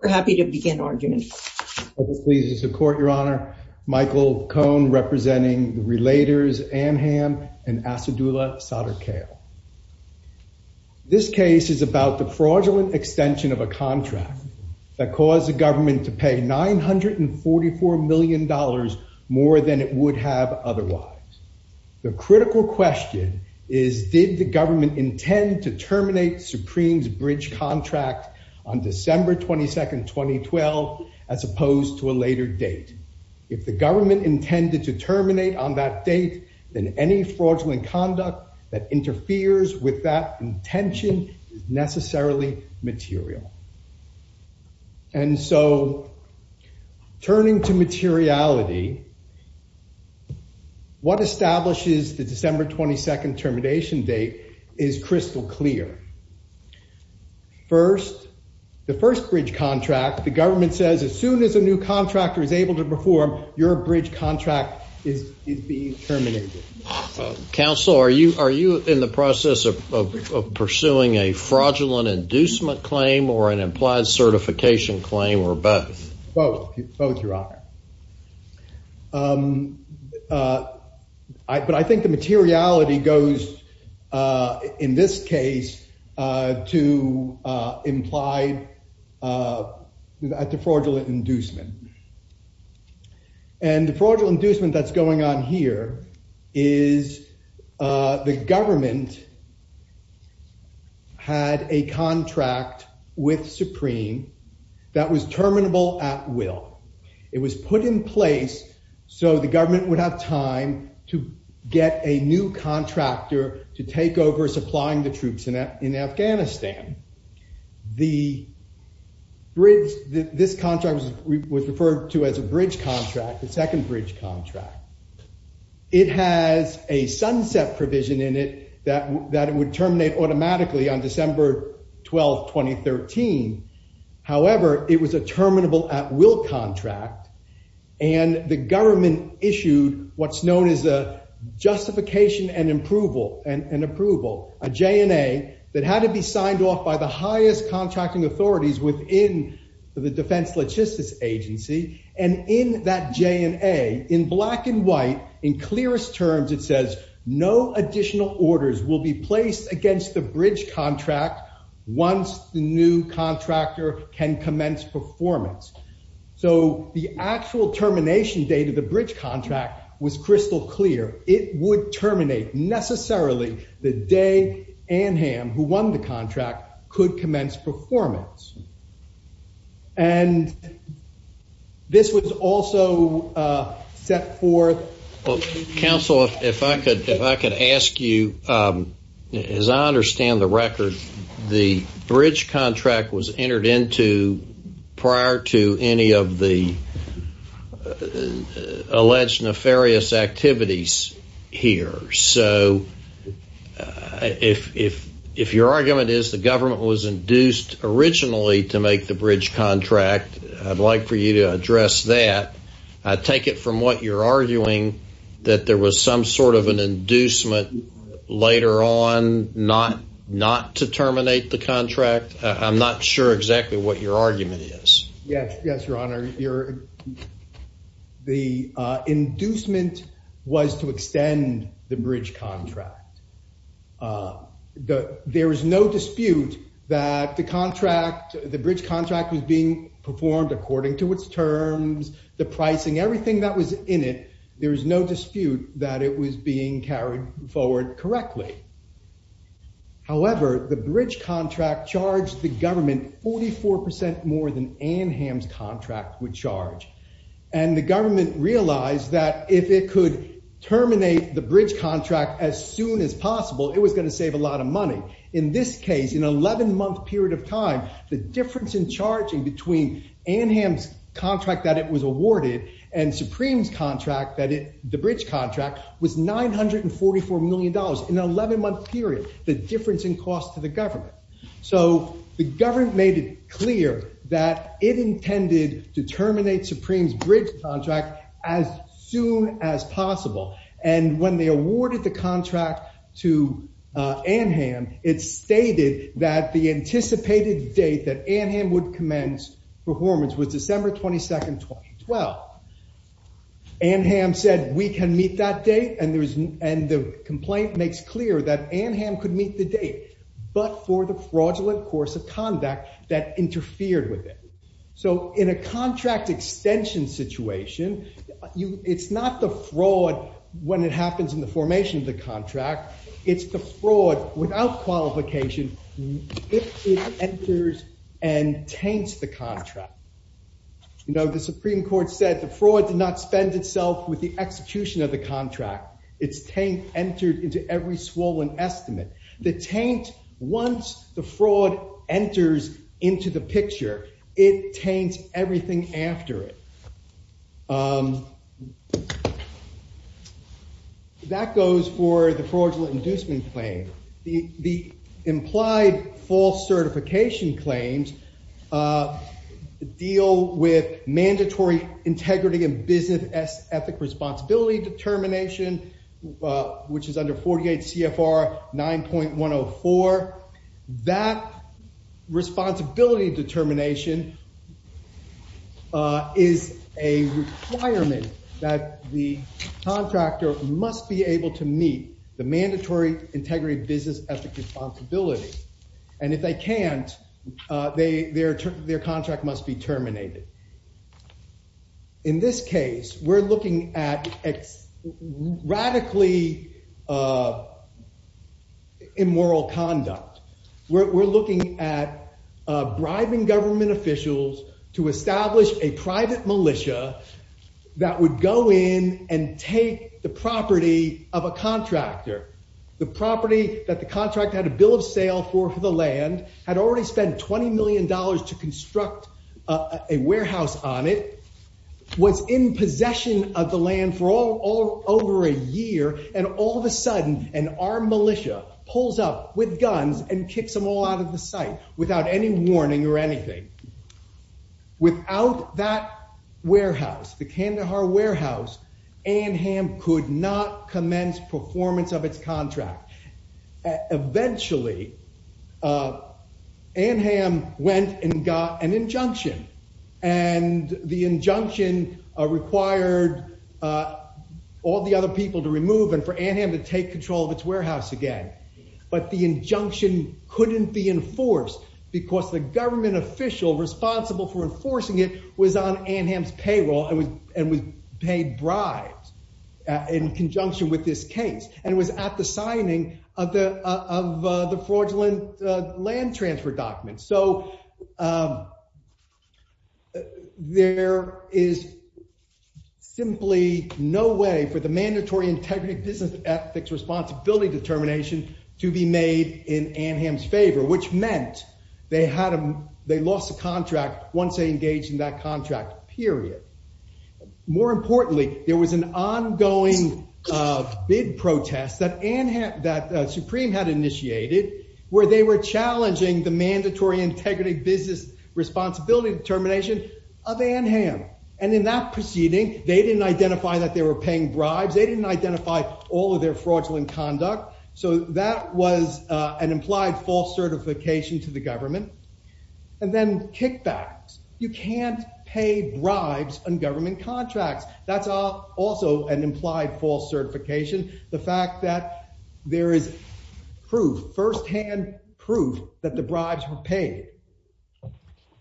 We're happy to begin argument. Please support your honor, Michael Cohn representing the Relators, Amham and Asadula Sadaqel. This case is about the fraudulent extension of a contract that caused the government to pay nine hundred and forty four million dollars more than it would have otherwise. The critical question is did the government intend to terminate Supreme's bridge contract on December 22nd, 2012, as opposed to a later date? If the government intended to terminate on that date, then any fraudulent conduct that interferes with that intention is necessarily material. And so turning to materiality, what first bridge contract the government says as soon as a new contractor is able to perform, your bridge contract is being terminated. Counsel, are you are you in the process of pursuing a fraudulent inducement claim or an implied certification claim or both? Well, both, your honor. But I think the materiality goes, in this case, to imply at the fraudulent inducement. And the fraudulent inducement that's going on here is the government had a contract with Supreme that was terminable at will. It was put in place so the government would have time to get a new contractor to take over supplying the troops in Afghanistan. The bridge, this contract was referred to as a bridge contract, the second bridge contract. It has a sunset provision in it that that it would terminate automatically on December 12, 2013. However, it was a terminable at will contract and the government issued what's known as a justification and approval, a J&A that had to be signed off by the highest contracting authorities within the Defense Logistics Agency. And in that J&A, in black and white, in clearest terms, it says no additional orders will be placed against the bridge contract once the new contractor can commence performance. So the actual termination date of the bridge contract was crystal clear. It would terminate necessarily the day Anham, who won the contract, could commence performance. And this was also set forth... Counsel, if I could ask you, as I understand the record, the bridge contract was entered into prior to any of the alleged nefarious activities here. So if your argument is the government was induced originally to make the bridge contract, I'd like for you to address that. I take it from what you're arguing that there was some sort of an inducement later on not to terminate the contract. I'm not sure exactly what your argument is. Yes, yes, your honor. The inducement was to extend the bridge contract. There is no dispute that the contract, the bridge contract was being performed according to its terms, the pricing, everything that was in it. There is no dispute that it was being carried forward correctly. However, the bridge contract charged the government 44% more than Anham's contract would charge. And the government realized that if it could terminate the bridge contract as soon as possible, it was going to save a lot of money. In this case, in an 11-month period of time, the difference in charging between Anham's awarded and Supreme's contract, the bridge contract, was 944 million dollars in an 11-month period, the difference in cost to the government. So the government made it clear that it intended to terminate Supreme's bridge contract as soon as possible. And when they awarded the contract to Anham, it stated that the anticipated date that Anham would commence performance was December 22nd, 2012. Anham said we can meet that date, and the complaint makes clear that Anham could meet the date, but for the fraudulent course of conduct that interfered with it. So in a contract extension situation, it's not the fraud when it happens in the formation of the contract, it's the fraud without qualification if it enters and taints the contract. You know, the Supreme Court said the fraud did not spend itself with the execution of the contract, it's taint entered into every swollen estimate. The taint, once the fraud enters into the picture, it taints everything after it. That goes for the implied false certification claims deal with mandatory integrity and business ethic responsibility determination, which is under 48 CFR 9.104. That responsibility determination is a requirement that the contractor must be in business ethic responsibility. And if they can't, their contract must be terminated. In this case, we're looking at radically immoral conduct. We're looking at bribing government officials to establish a private militia that would go in and take the property of a contractor. The property that the contract had a bill of sale for for the land, had already spent $20 million to construct a warehouse on it, was in possession of the land for all over a year. And all of a sudden, an armed militia pulls up with guns and kicks them all out of the site without any warning or anything. Without that warehouse, the Kandahar warehouse, Anham could not commence performance of its contract. Eventually, Anham went and got an injunction. And the injunction required all the other people to remove and for Anham to take control of its warehouse again. But the injunction couldn't be enforced, because the And was paid bribes in conjunction with this case. And it was at the signing of the fraudulent land transfer documents. So there is simply no way for the mandatory integrity business ethics responsibility determination to be made in Anham's favor, which meant they lost the contract once they engaged in that contract, period. More importantly, there was an ongoing bid protest that Anham, that Supreme had initiated, where they were challenging the mandatory integrity business responsibility determination of Anham. And in that proceeding, they didn't identify that they were paying bribes, they didn't identify all of their fraudulent conduct. So that was an implied false certification to the government. And then kickbacks, you can't pay bribes on government contracts. That's also an implied false certification, the fact that there is proof firsthand proof that the bribes were paid.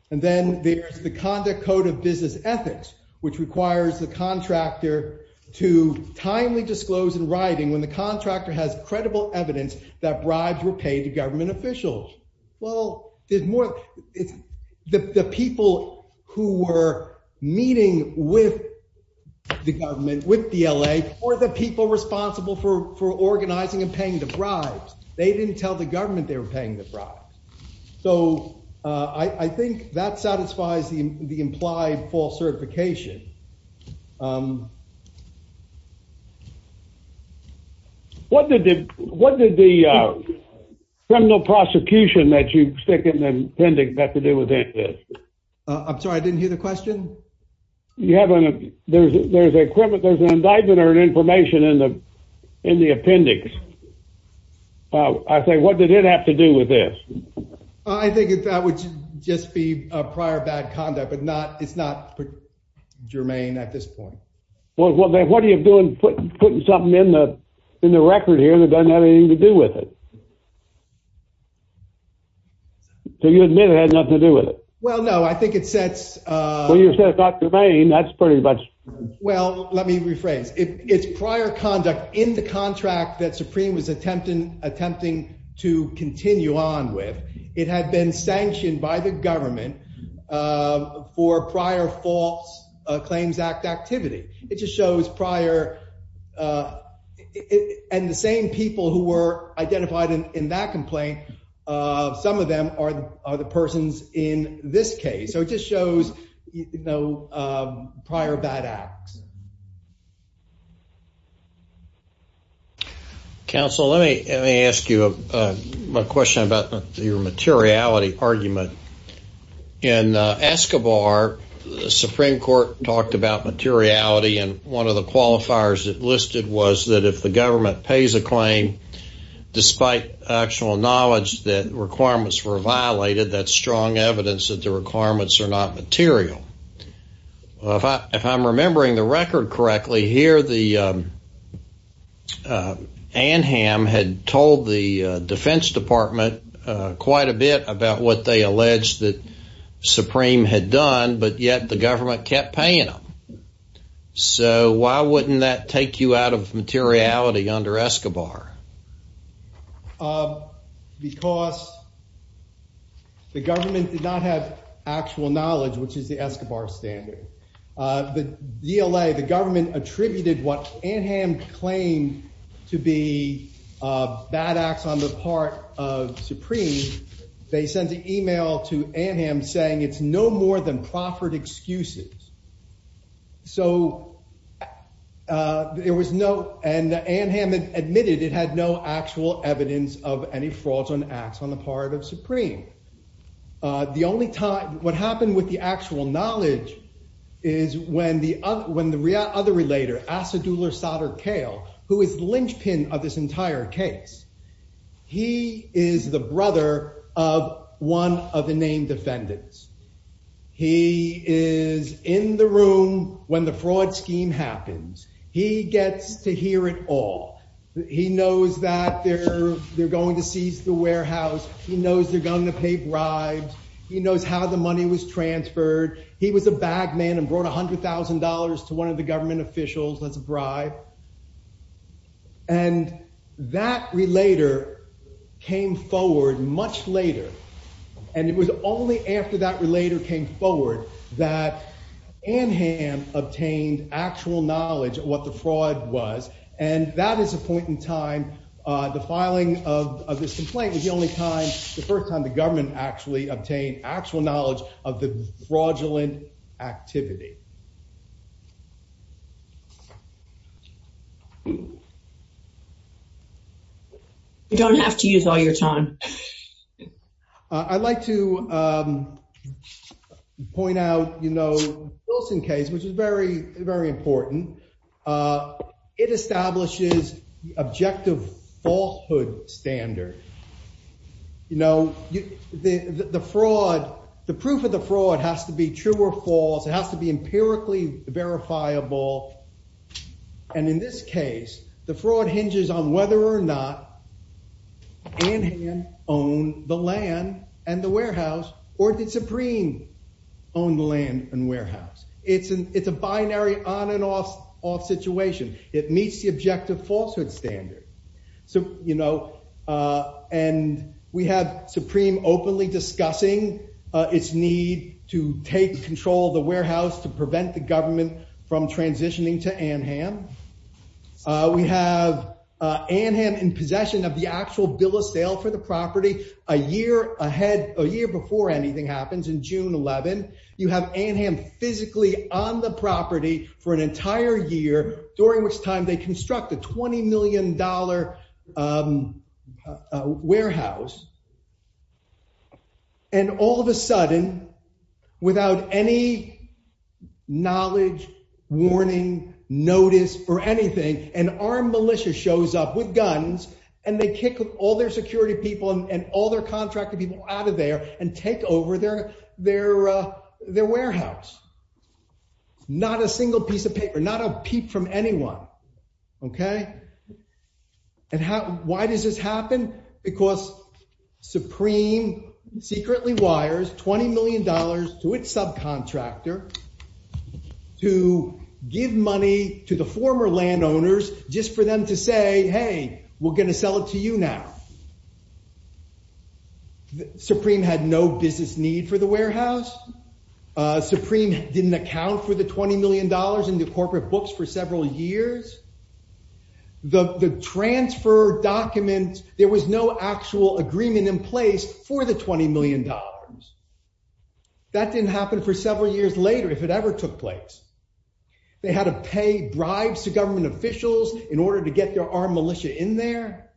And then there's the conduct code of business ethics, which requires the contractor to timely disclose in writing when the contractor has credible evidence that Well, there's more. It's the people who were meeting with the government with the LA or the people responsible for organizing and paying the bribes. They didn't tell the government they were paying the price. So I think that satisfies the the implied false certification. Um, what did the what did the criminal prosecution that you stick in the appendix have to do with it? I'm sorry, I didn't hear the question. You have an there's there's a criminal there's an indictment or an information in the in the appendix. I say what did it have to do with this? I think it's that would just be a prior bad conduct, but not it's not germane at this point. Well, then what are you doing, putting putting something in the in the record here that doesn't have anything to do with it? So you admit it had nothing to do with it? Well, no, I think it sets what you're saying about domain. That's pretty much well, let me rephrase it. It's prior conduct in the contract that Supreme was attempting attempting to continue on with. It had been sanctioned by the government for prior false Claims Act activity. It just shows prior, uh, and the same people who were identified in that complaint. Some of them are the persons in this case. So it just shows, you know, prior bad acts. Council, let me let me ask you a question about your materiality argument. In Escobar, the Supreme Court talked about materiality. And one of the qualifiers listed was that if the government pays a claim, despite actual knowledge that requirements were violated, that strong evidence that the record correctly here, the, uh, Anham had told the Defense Department quite a bit about what they alleged that Supreme had done, but yet the government kept paying them. So why wouldn't that take you out of materiality under Escobar? Because the government did not have actual knowledge, which is the Escobar standard. The D. L. A. The government attributed what Anham claimed to be bad acts on the part of Supreme. They sent an email to Anham saying it's no more than proffered excuses. So, uh, there was no and Anham admitted it had no actual evidence of any fraudulent acts on the part of Supreme. Uh, the only time what happened with the actual knowledge is when the when the other relator acid, ruler, solder, kale, who is linchpin of this entire case. He is the brother of one of the named defendants. He is in the room when the fraud scheme happens. He gets to hear it all. He knows that they're going to the warehouse. He knows they're going to pay bribes. He knows how the money was transferred. He was a bag man and brought $100,000 to one of the government officials as a bribe. And that relator came forward much later, and it was only after that relator came forward that Anham obtained actual knowledge of what the It was the only time the first time the government actually obtained actual knowledge of the fraudulent activity. You don't have to use all your time. I'd like to, um, point out, you know, Wilson case, which is very, very important. Uh, it establishes objective falsehood standard. You know, the fraud, the proof of the fraud has to be true or false. It has to be empirically verifiable. And in this case, the fraud hinges on whether or not Anham owned the land and the warehouse, or did Supreme own the land and warehouse? It's a binary on and off off situation. It meets the objective falsehood standard. So, you know, and we have Supreme openly discussing its need to take control of the warehouse to prevent the government from transitioning to Anham. We have Anham in possession of the actual bill of sale for the property a year ahead. A year before anything happens in June 11. You have Anham physically on the property for an entire year, during which time they construct a $20 million warehouse. And all of a sudden, without any knowledge, warning, notice or anything, an armed militia shows up with guns and they kick all their security people and all their contracted people out of there and take over their, their, uh, their warehouse. Not a single piece of paper, not a peep from anyone. Okay. And how, why does this happen? Because Supreme secretly wires $20 million to its subcontractor to give money to the former landowners just for them to say, Hey, we're going to sell it to you now. Supreme had no business need for the warehouse. Uh, Supreme didn't account for the $20 million in the corporate books for several years. The, the transfer documents, there was no actual agreement in place for the $20 million. That didn't happen for several years later, if it ever took place, they had to pay bribes to government officials in order to get their armed militia in there.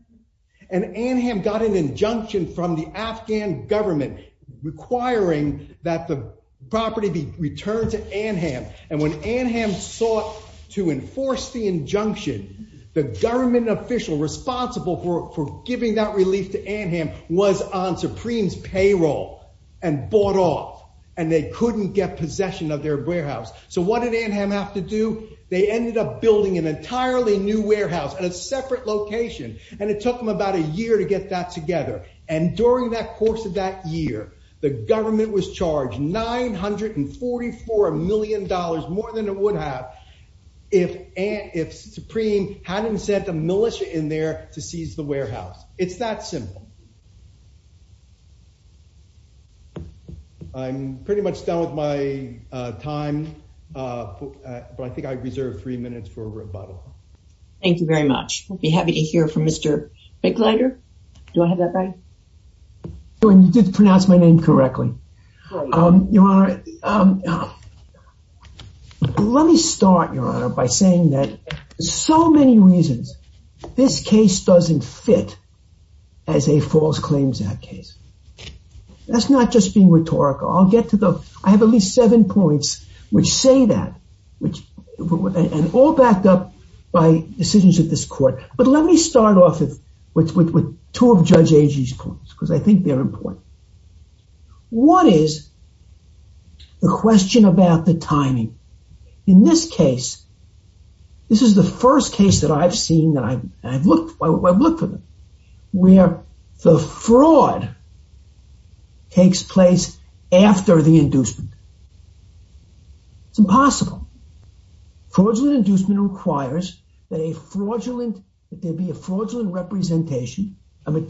And Anham got an injunction from the Afghan government requiring that the property be returned to Anham. And when Anham sought to enforce the injunction, the government official responsible for, for giving that relief to Anham was on Supreme's payroll and bought off and they couldn't get possession of their warehouse. So what did Anham have to do? They ended up building an entirely new warehouse at a separate location and it took them about a year to get that together. And during that course of that year, the $944 million more than it would have if, if Supreme hadn't sent a militia in there to seize the warehouse. It's that simple. I'm pretty much done with my time. Uh, but I think I reserved three minutes for a rebuttal. Thank you very much. We'll be happy to hear from Mr. Bickleider. Do I have that right? You did pronounce my name correctly. Um, Your Honor, um, let me start, Your Honor, by saying that so many reasons this case doesn't fit as a false claims act case. That's not just being rhetorical. I'll get to the, I have at least seven points which say that, which, and all backed up by decisions of this with two of Judge Agee's points, because I think they're important. What is the question about the timing? In this case, this is the first case that I've seen that I've, I've looked, I've looked for them, where the fraud takes place after the inducement. It's impossible. Fraudulent inducement requires that a material fraudulent representation during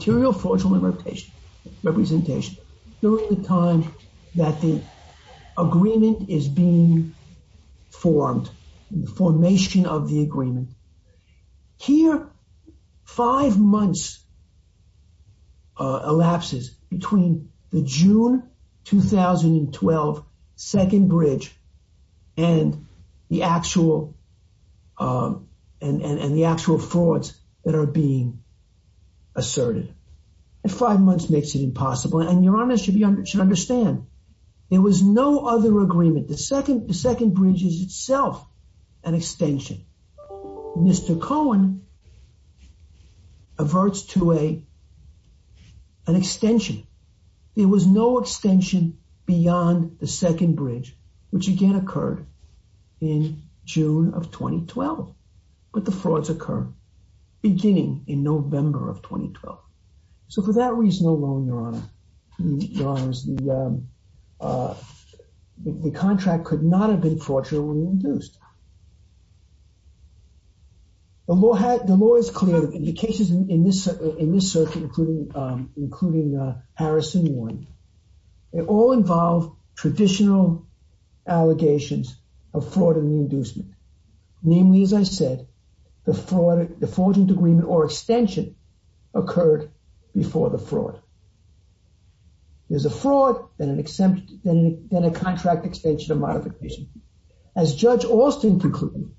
the time that the agreement is being formed, formation of the agreement. Here, five months elapses between the June 2012 second bridge and the actual, um, and, and the actual frauds that are being asserted. And five months makes it impossible. And Your Honor should be under, should understand. There was no other agreement. The second, the second bridge is itself an extension. Mr. Cohen averts to a, an extension. There was no extension beyond the second bridge, which again occurred in June of 2012. But the frauds occur beginning in November of 2012. So for that reason alone, Your Honor, Your Honors, the, um, uh, the contract could not have been fraudulently induced. The law had, the law is clear that the cases in this, in this circuit, including, um, including, uh, Harrison one, it all involved traditional allegations of fraud in the inducement. Namely, as I said, the fraud, the fraudulent agreement or extension occurred before the fraud. There's a fraud, then an exemption, then a contract extension or modification. As Judge Alston concluded,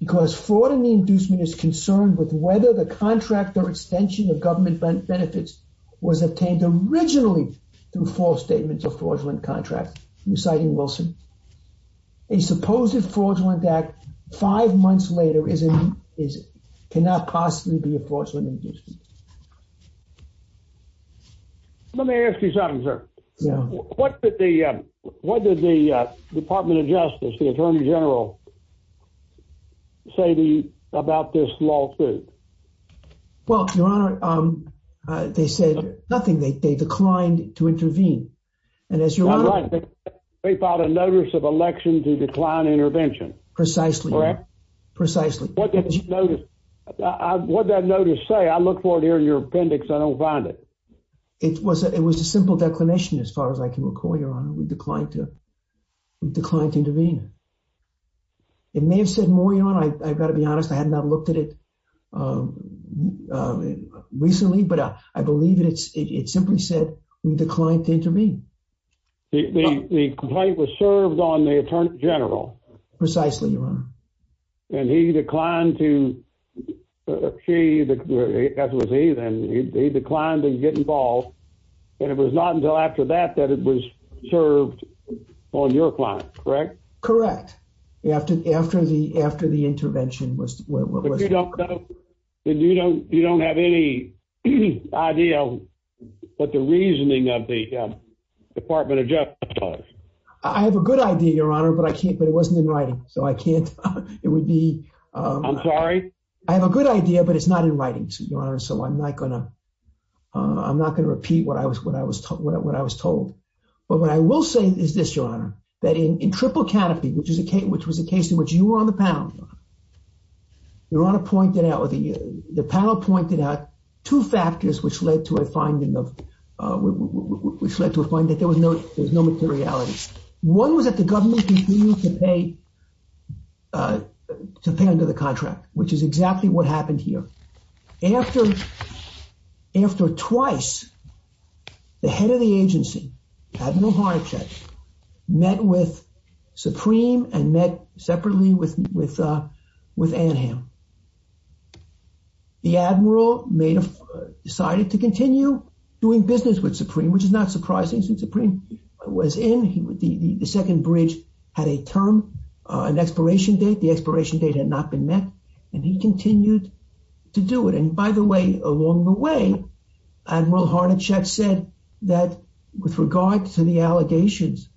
because fraud in the inducement is concerned with whether the contract or extension of government benefits was obtained originally through false statements of fraudulent contract. You're citing Wilson. A supposed fraudulent act five months later is, is, cannot possibly be a fraudulent inducement. Let me ask you something, sir. What did the, what did the Department of Justice, the Attorney General, say the, about this lawsuit? Well, Your Honor, um, they said nothing. They declined to intervene. And as you're right, they filed a notice of election to decline intervention. Precisely. Precisely. What did you notice? What did that notice say? I look for it here in your appendix. I don't find it. It was, it was a simple declination as far as I can recall, Your Honor. We declined to, we declined to intervene. It may have said more, Your Honor. I've got to be honest. I had not looked at it, um, uh, recently, but I believe that it's, it simply said we declined to intervene. The complaint was served on the Attorney General. Precisely, Your Honor. And he declined to, she, as was he, then he declined to get involved. And it was not until after that, that it was served on your client. Correct? Correct. After, after the, after the intervention was, was, was. But you don't have any idea what the reasoning of the Department of Justice was? I have a good idea, Your Honor, but I can't, but it wasn't in writing. So I can't, it would be, um. I'm sorry? I have a good idea, but it's not in writing, Your Honor. So I'm not gonna, I'm not gonna repeat what I was, what I was, what I was told. But what I will say is this, Your Honor, that in, in Triple Canopy, which is a case, which was a case in which you were on the panel, Your Honor, Your Honor pointed out, or the, the panel pointed out two factors which led to a finding of, uh, which, which led to a finding that there was no, there was no materiality. One was that the government continued to pay, uh, to pay under the contract, which is exactly what happened here. After, after twice, the head of the Admiral Harnachek met with Supreme and met separately with, with, uh, with Anham. The Admiral made a, decided to continue doing business with Supreme, which is not surprising since Supreme was in, he would, the, the, the second bridge had a term, uh, an expiration date. The expiration date had not been met and he continued to do it. And by the way, along the way, Admiral Harnachek said that with regard to the allegations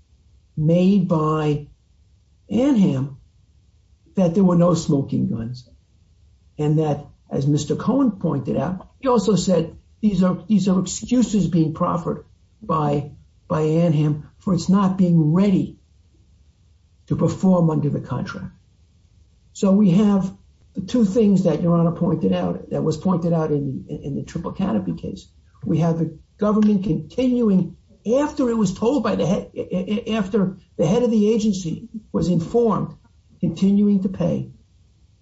made by Anham, that there were no smoking guns. And that as Mr. Cohen pointed out, he also said, these are, these are excuses being proffered by, by Anham for its not being ready to perform under the contract. So we have the two things that Your Honor pointed out, that was pointed out in the Triple Canopy case. We have the government continuing after it was told by the head, after the head of the agency was informed, continuing to pay.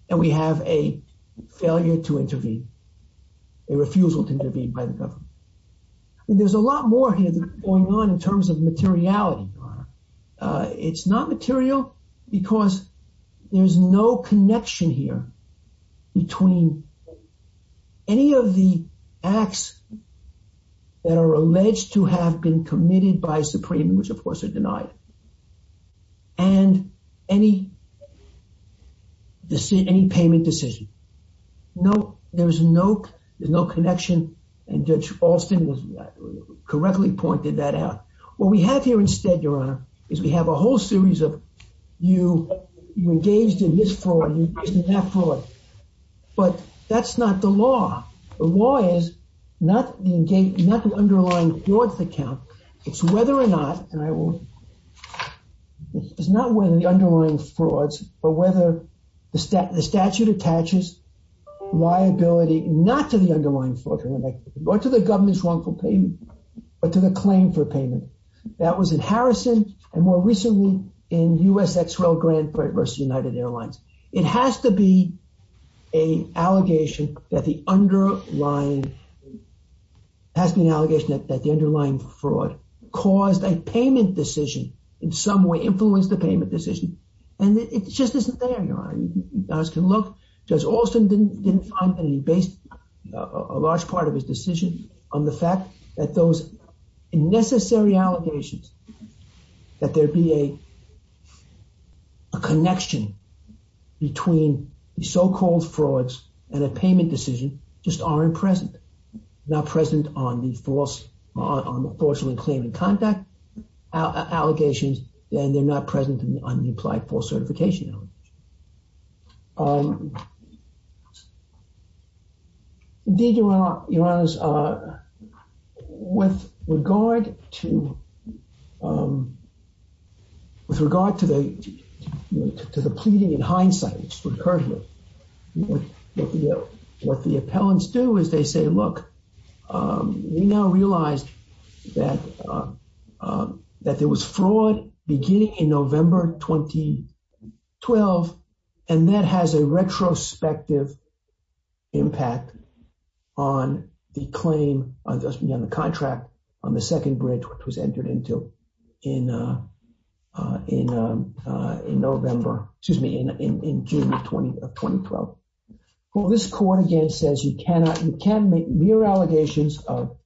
And we have a failure to intervene, a refusal to intervene by the government. And there's a lot more here that's going on in terms of materiality, Your Honor. Uh, it's not material because there's no connection here between any of the acts that are alleged to have been committed by Supreme, which of course are denied, and any, any payment decision. No, there's no, there's no connection. And Judge Alston correctly pointed that out. What we have here instead, Your Honor, is we have a whole fraud. But that's not the law. The law is not the underlying frauds account. It's whether or not, and I will, it's not whether the underlying frauds, but whether the statute attaches liability, not to the underlying fraud, or to the government's wrongful payment, but to the claim for payment. That was in It has to be a allegation that the underlying, has to be an allegation that the underlying fraud caused a payment decision, in some way influenced the payment decision. And it just isn't there, Your Honor. You can look, Judge Alston didn't find any base, a large part of his decision on the fact that those unnecessary allegations, that there be a, a connection between the so-called frauds and a payment decision, just aren't present. Not present on the false, on the falsely claiming contact allegations, and they're not With regard to, with regard to the, to the pleading in hindsight, which occurred here, what the, what the appellants do is they say, look, we now realized that, that there was fraud beginning in November 2012, and that has a retrospective impact on the claim, on the contract, on the second bridge, which was entered into in, in, in November, excuse me, in June of 2012. Well, this court again says you cannot, you can make mere allegations of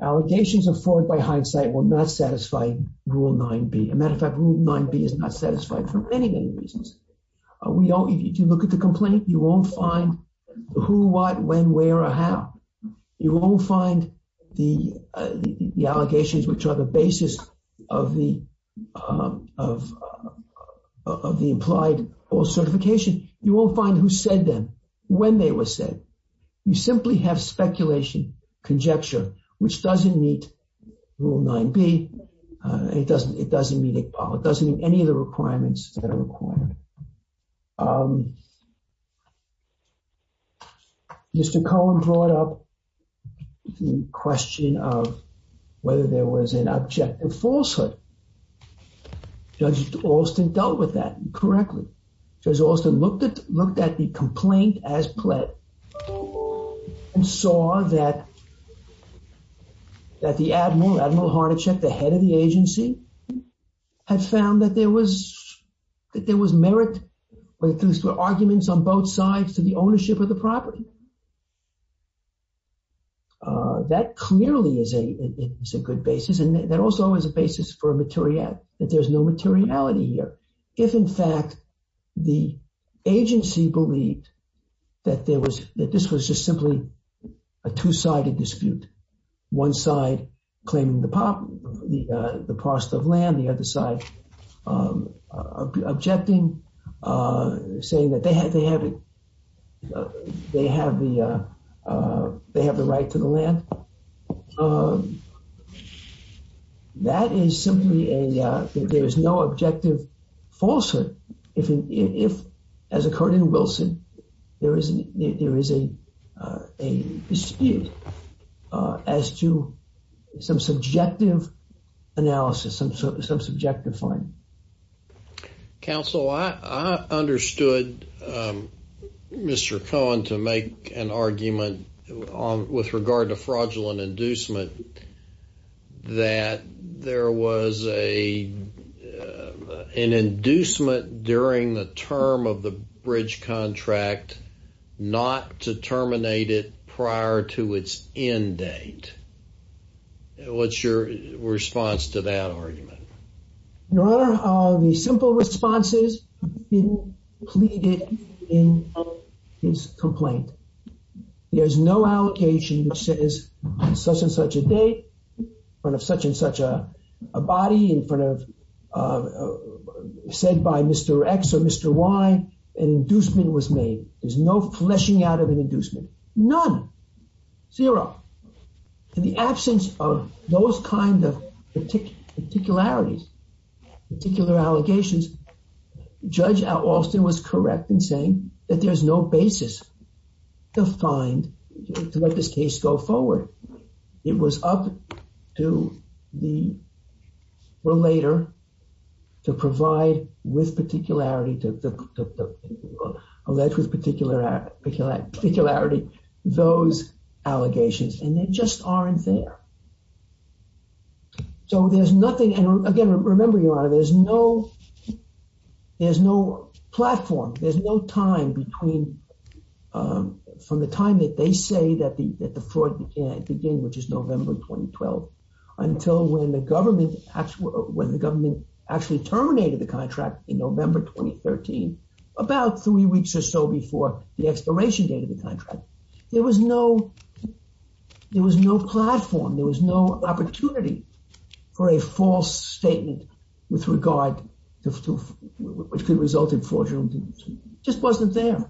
allegations of fraud by hindsight will not satisfy Rule 9b. A matter of fact, Rule 9b is not satisfied for many, many reasons. We don't, if you look at the complaint, you won't find who, what, when, where, or how. You won't find the, the allegations which are the basis of the, of, of the implied false certification. You won't find who said them, when they were said. You simply have speculation, conjecture, which doesn't meet Rule 9b. It doesn't, it doesn't meet any of the requirements that are required. Um, Mr. Cohen brought up the question of whether there was an objective falsehood. Judge Alston dealt with that correctly. Judge Alston looked at, looked at the complaint as pled, and saw that, that the admiral, Admiral Harnacek, the head of the agency, had found that there was, that there was merit when it comes to arguments on both sides to the ownership of the property. Uh, that clearly is a, is a good basis. And that also is a basis for a materiality, that there's no materiality here. If in fact the agency believed that there was, that this was just simply a two-sided dispute, one side claiming the prop, the, uh, the cost of land, the other side, um, objecting, uh, saying that they had, they have it, they have the, uh, uh, they have the right to the land. Um, that is simply a, uh, there is no objective falsehood. If, if, as occurred in a dispute, uh, as to some subjective analysis, some, some subjective finding. Counsel, I, I understood, um, Mr. Cohen to make an argument on, with regard to fraudulent inducement, that there was a, uh, an inducement during the term of the bridge contract, not to terminate it prior to its end date. What's your response to that argument? Your Honor, uh, the simple responses have been pleaded in his complaint. There's no allocation which says such and such a date, in front of such and such a date, why an inducement was made. There's no fleshing out of an inducement. None. Zero. In the absence of those kind of particularities, particular allegations, Judge Alston was correct in saying that there's no basis to find, to let this case go forward. It was up to the relator to provide with particularity to, to, to, to, to, um, to let with particular act, particularity those allegations and they just aren't there. So there's nothing. And again, remember Your Honor, there's no, there's no platform. There's no time between, um, from the time that they say that the, that the fraud began, which is November of 2012 until when the government actually, when the government actually terminated the contract in November, 2013, about three weeks or so before the expiration date of the contract, there was no, there was no platform. There was no opportunity for a false statement with regard to, which could result in fraudulent, just wasn't there.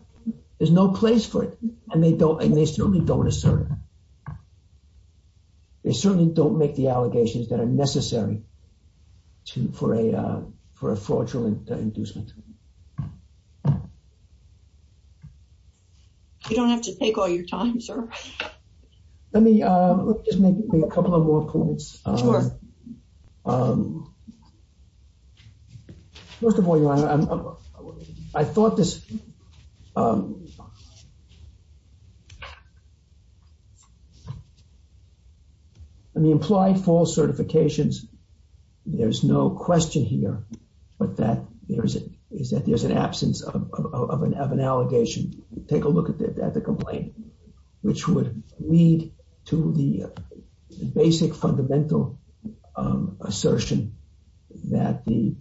There's no place for it. And they don't, and they certainly don't assert it. They certainly don't make the for a fraudulent inducement. You don't have to take all your time, sir. Let me, um, let me just make a couple of more points. Um, first of all, Your Honor, I thought this, um, the implied false certifications, there's no question here, but that there's a, is that there's an absence of, of, of an, of an allegation. Take a look at the, at the complaint, which would lead to the basic fundamental, um, assertion that the,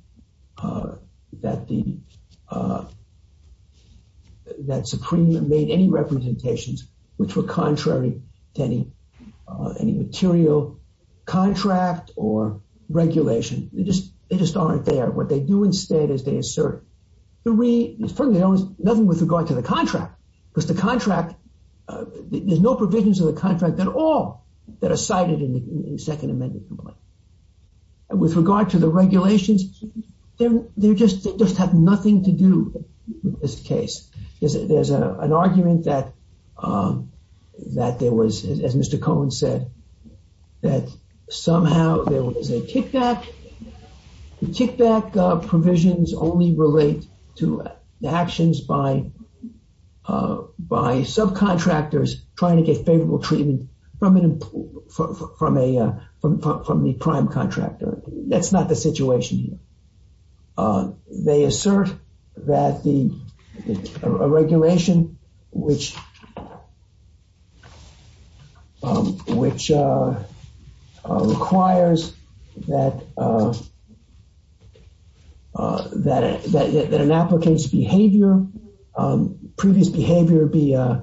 uh, that the, uh, that Supreme made any representations, which were contrary to any, uh, any material contract or regulation. They just, they just aren't there. What they do instead is they assert the re, nothing with regard to the contract, because the contract, uh, there's no provisions of the contract at all that are cited in the second amended complaint. And with regard to the regulations, they're, they're just, they just have nothing to do with this case. There's an argument that, um, that there was, as Mr. Cohen said, that somehow there was a kickback. The kickback, uh, provisions only relate to the actions by, uh, by subcontractors trying to get favorable treatment from an, from a, uh, from, from the prime contractor. That's not the that the regulation, which, um, which, uh, uh, requires that, uh, uh, that, that, that an applicant's behavior, um, previous behavior be, uh,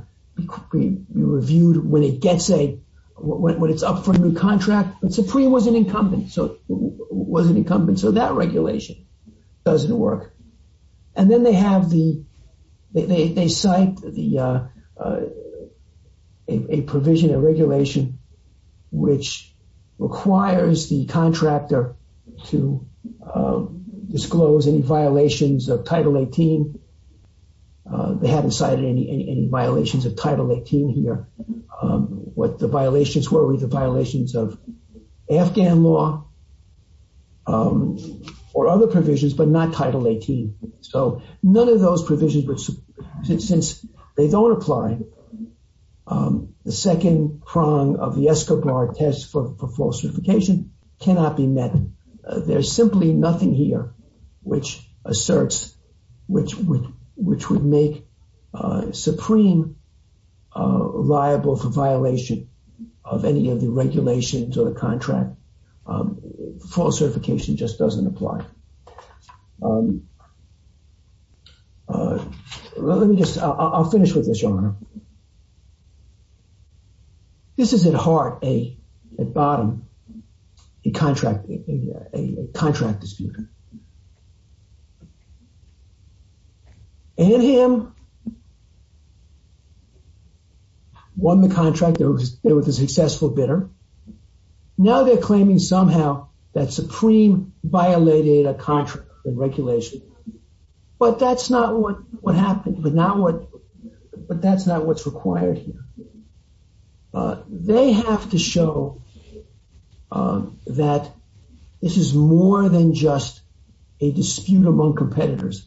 be reviewed when it gets a, when, when it's up for a new contract. But Supreme was an incumbent, so, was an incumbent, so that regulation doesn't work. And then they have the, they, they, they cite the, uh, uh, a, a provision, a regulation, which requires the contractor to, uh, disclose any violations of Title 18. Uh, they haven't cited any, any, any violations of Title 18 here. Um, what the violations were were the violations of Afghan law, um, or other provisions, but not Title 18. So none of those provisions, which since they don't apply, um, the second prong of the Escobar test for, for false certification cannot be met. Uh, there's simply nothing here which asserts, which, which, which would make, uh, Supreme, uh, liable for violation of any of the regulations or contract. Um, false certification just doesn't apply. Um, uh, let me just, I'll finish with this, Your Honor. This is at heart a, at bottom, a contract, a contract dispute. And him won the contract. It was a successful bidder. Now they're claiming somehow that Supreme violated a contract and regulation, but that's not what, what happened, but not what, but that's not what's required here. Uh, they have to show, um, that this is more than just a dispute among competitors.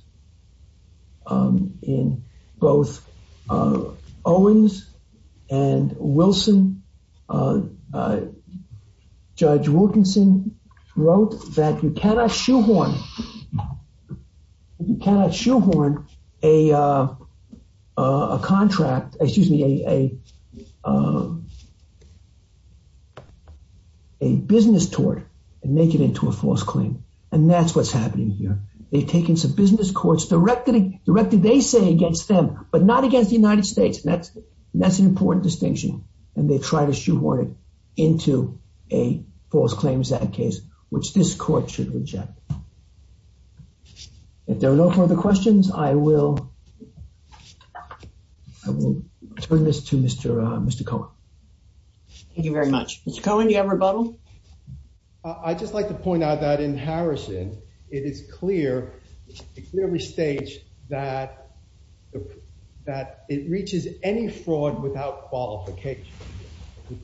Um, in both, uh, Owens and Wilson, uh, uh, Judge Wilkinson wrote that you cannot shoehorn, you cannot shoehorn a, uh, uh, a contract, excuse me, a, a, um, a business tort and make it into a false claim. And that's what's happening here. They've taken some business courts directly, directly, they say against them, but not against the United States. And that's, that's an important distinction. And they try to shoehorn it into a false claim in that case, which this court should reject. If there are no further questions, I will, I will turn this to Mr., uh, Mr. Cohen. Thank you very much. Mr. Cohen, do you have a rebuttal? Uh, I just like to point out that in Harrison, it is clear, it clearly states that, that it reaches any fraud without qualification.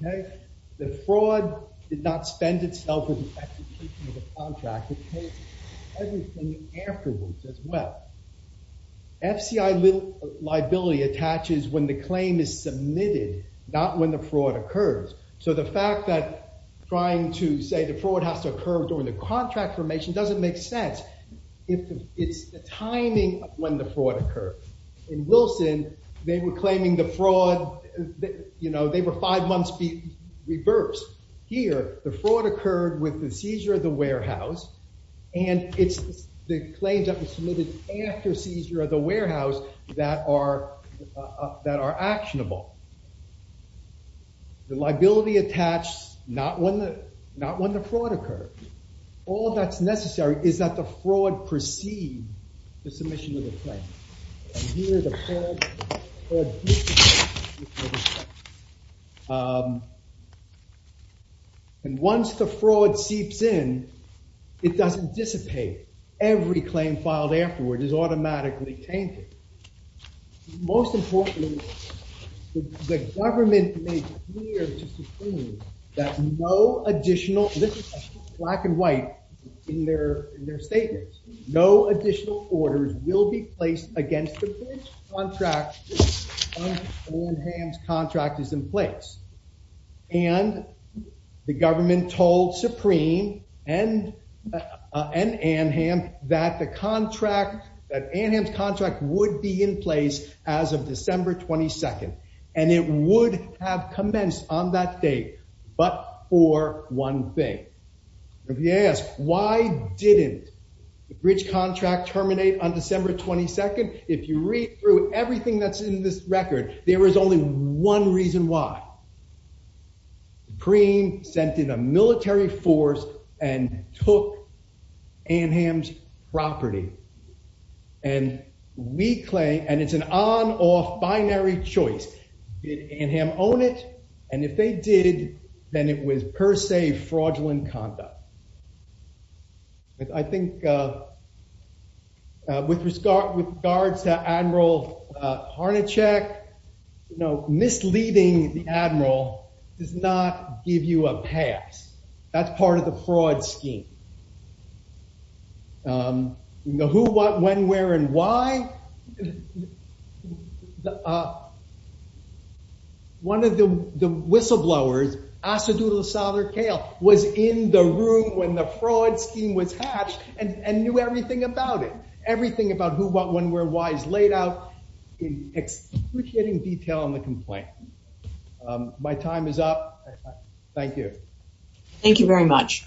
Okay. The fraud did not spend itself in the execution of the contract, it takes everything afterwards as well. FCI liability attaches when the claim is submitted, not when the fraud occurs. So the fact that trying to say the fraud has to occur during the contract formation doesn't make sense if it's the timing of when the fraud occurred. In Wilson, they were claiming the fraud, you know, they were five months be reversed. Here, the fraud occurred with the seizure of the warehouse. And it's the claims that were submitted after seizure of the warehouse that are, uh, that are actionable. The liability attached, not when the, not when the fraud occurred. All that's necessary is that the fraud proceed the submission of the claim. And once the fraud seeps in, it doesn't dissipate. Every claim filed afterward is automatically tainted. Most importantly, the government made clear that no additional, this is black and white in their, in their statements, no additional orders will be placed against the bridge contract until Anham's contract is in place. And the government told Supreme and, uh, and Anham that the contract, that Anham's contract would be in place as of December 22nd. And it would have immense on that date. But for one thing, if you ask, why didn't the bridge contract terminate on December 22nd? If you read through everything that's in this record, there is only one reason why. Supreme sent in a military force and took Anham's property. And we claim, and it's an on off binary choice. Anham own it. And if they did, then it was per se, fraudulent conduct. I think, uh, with regard, with regards to Admiral Harnacek, you know, misleading the admiral does not give you a pass. That's part of the fraud scheme. Um, you know one of the whistleblowers asked to do the solder kale was in the room when the fraud scheme was hatched and knew everything about it. Everything about who, what, when, where, why is laid out in excruciating detail on the complaint. Um, my time is up. Thank you. Thank you very much.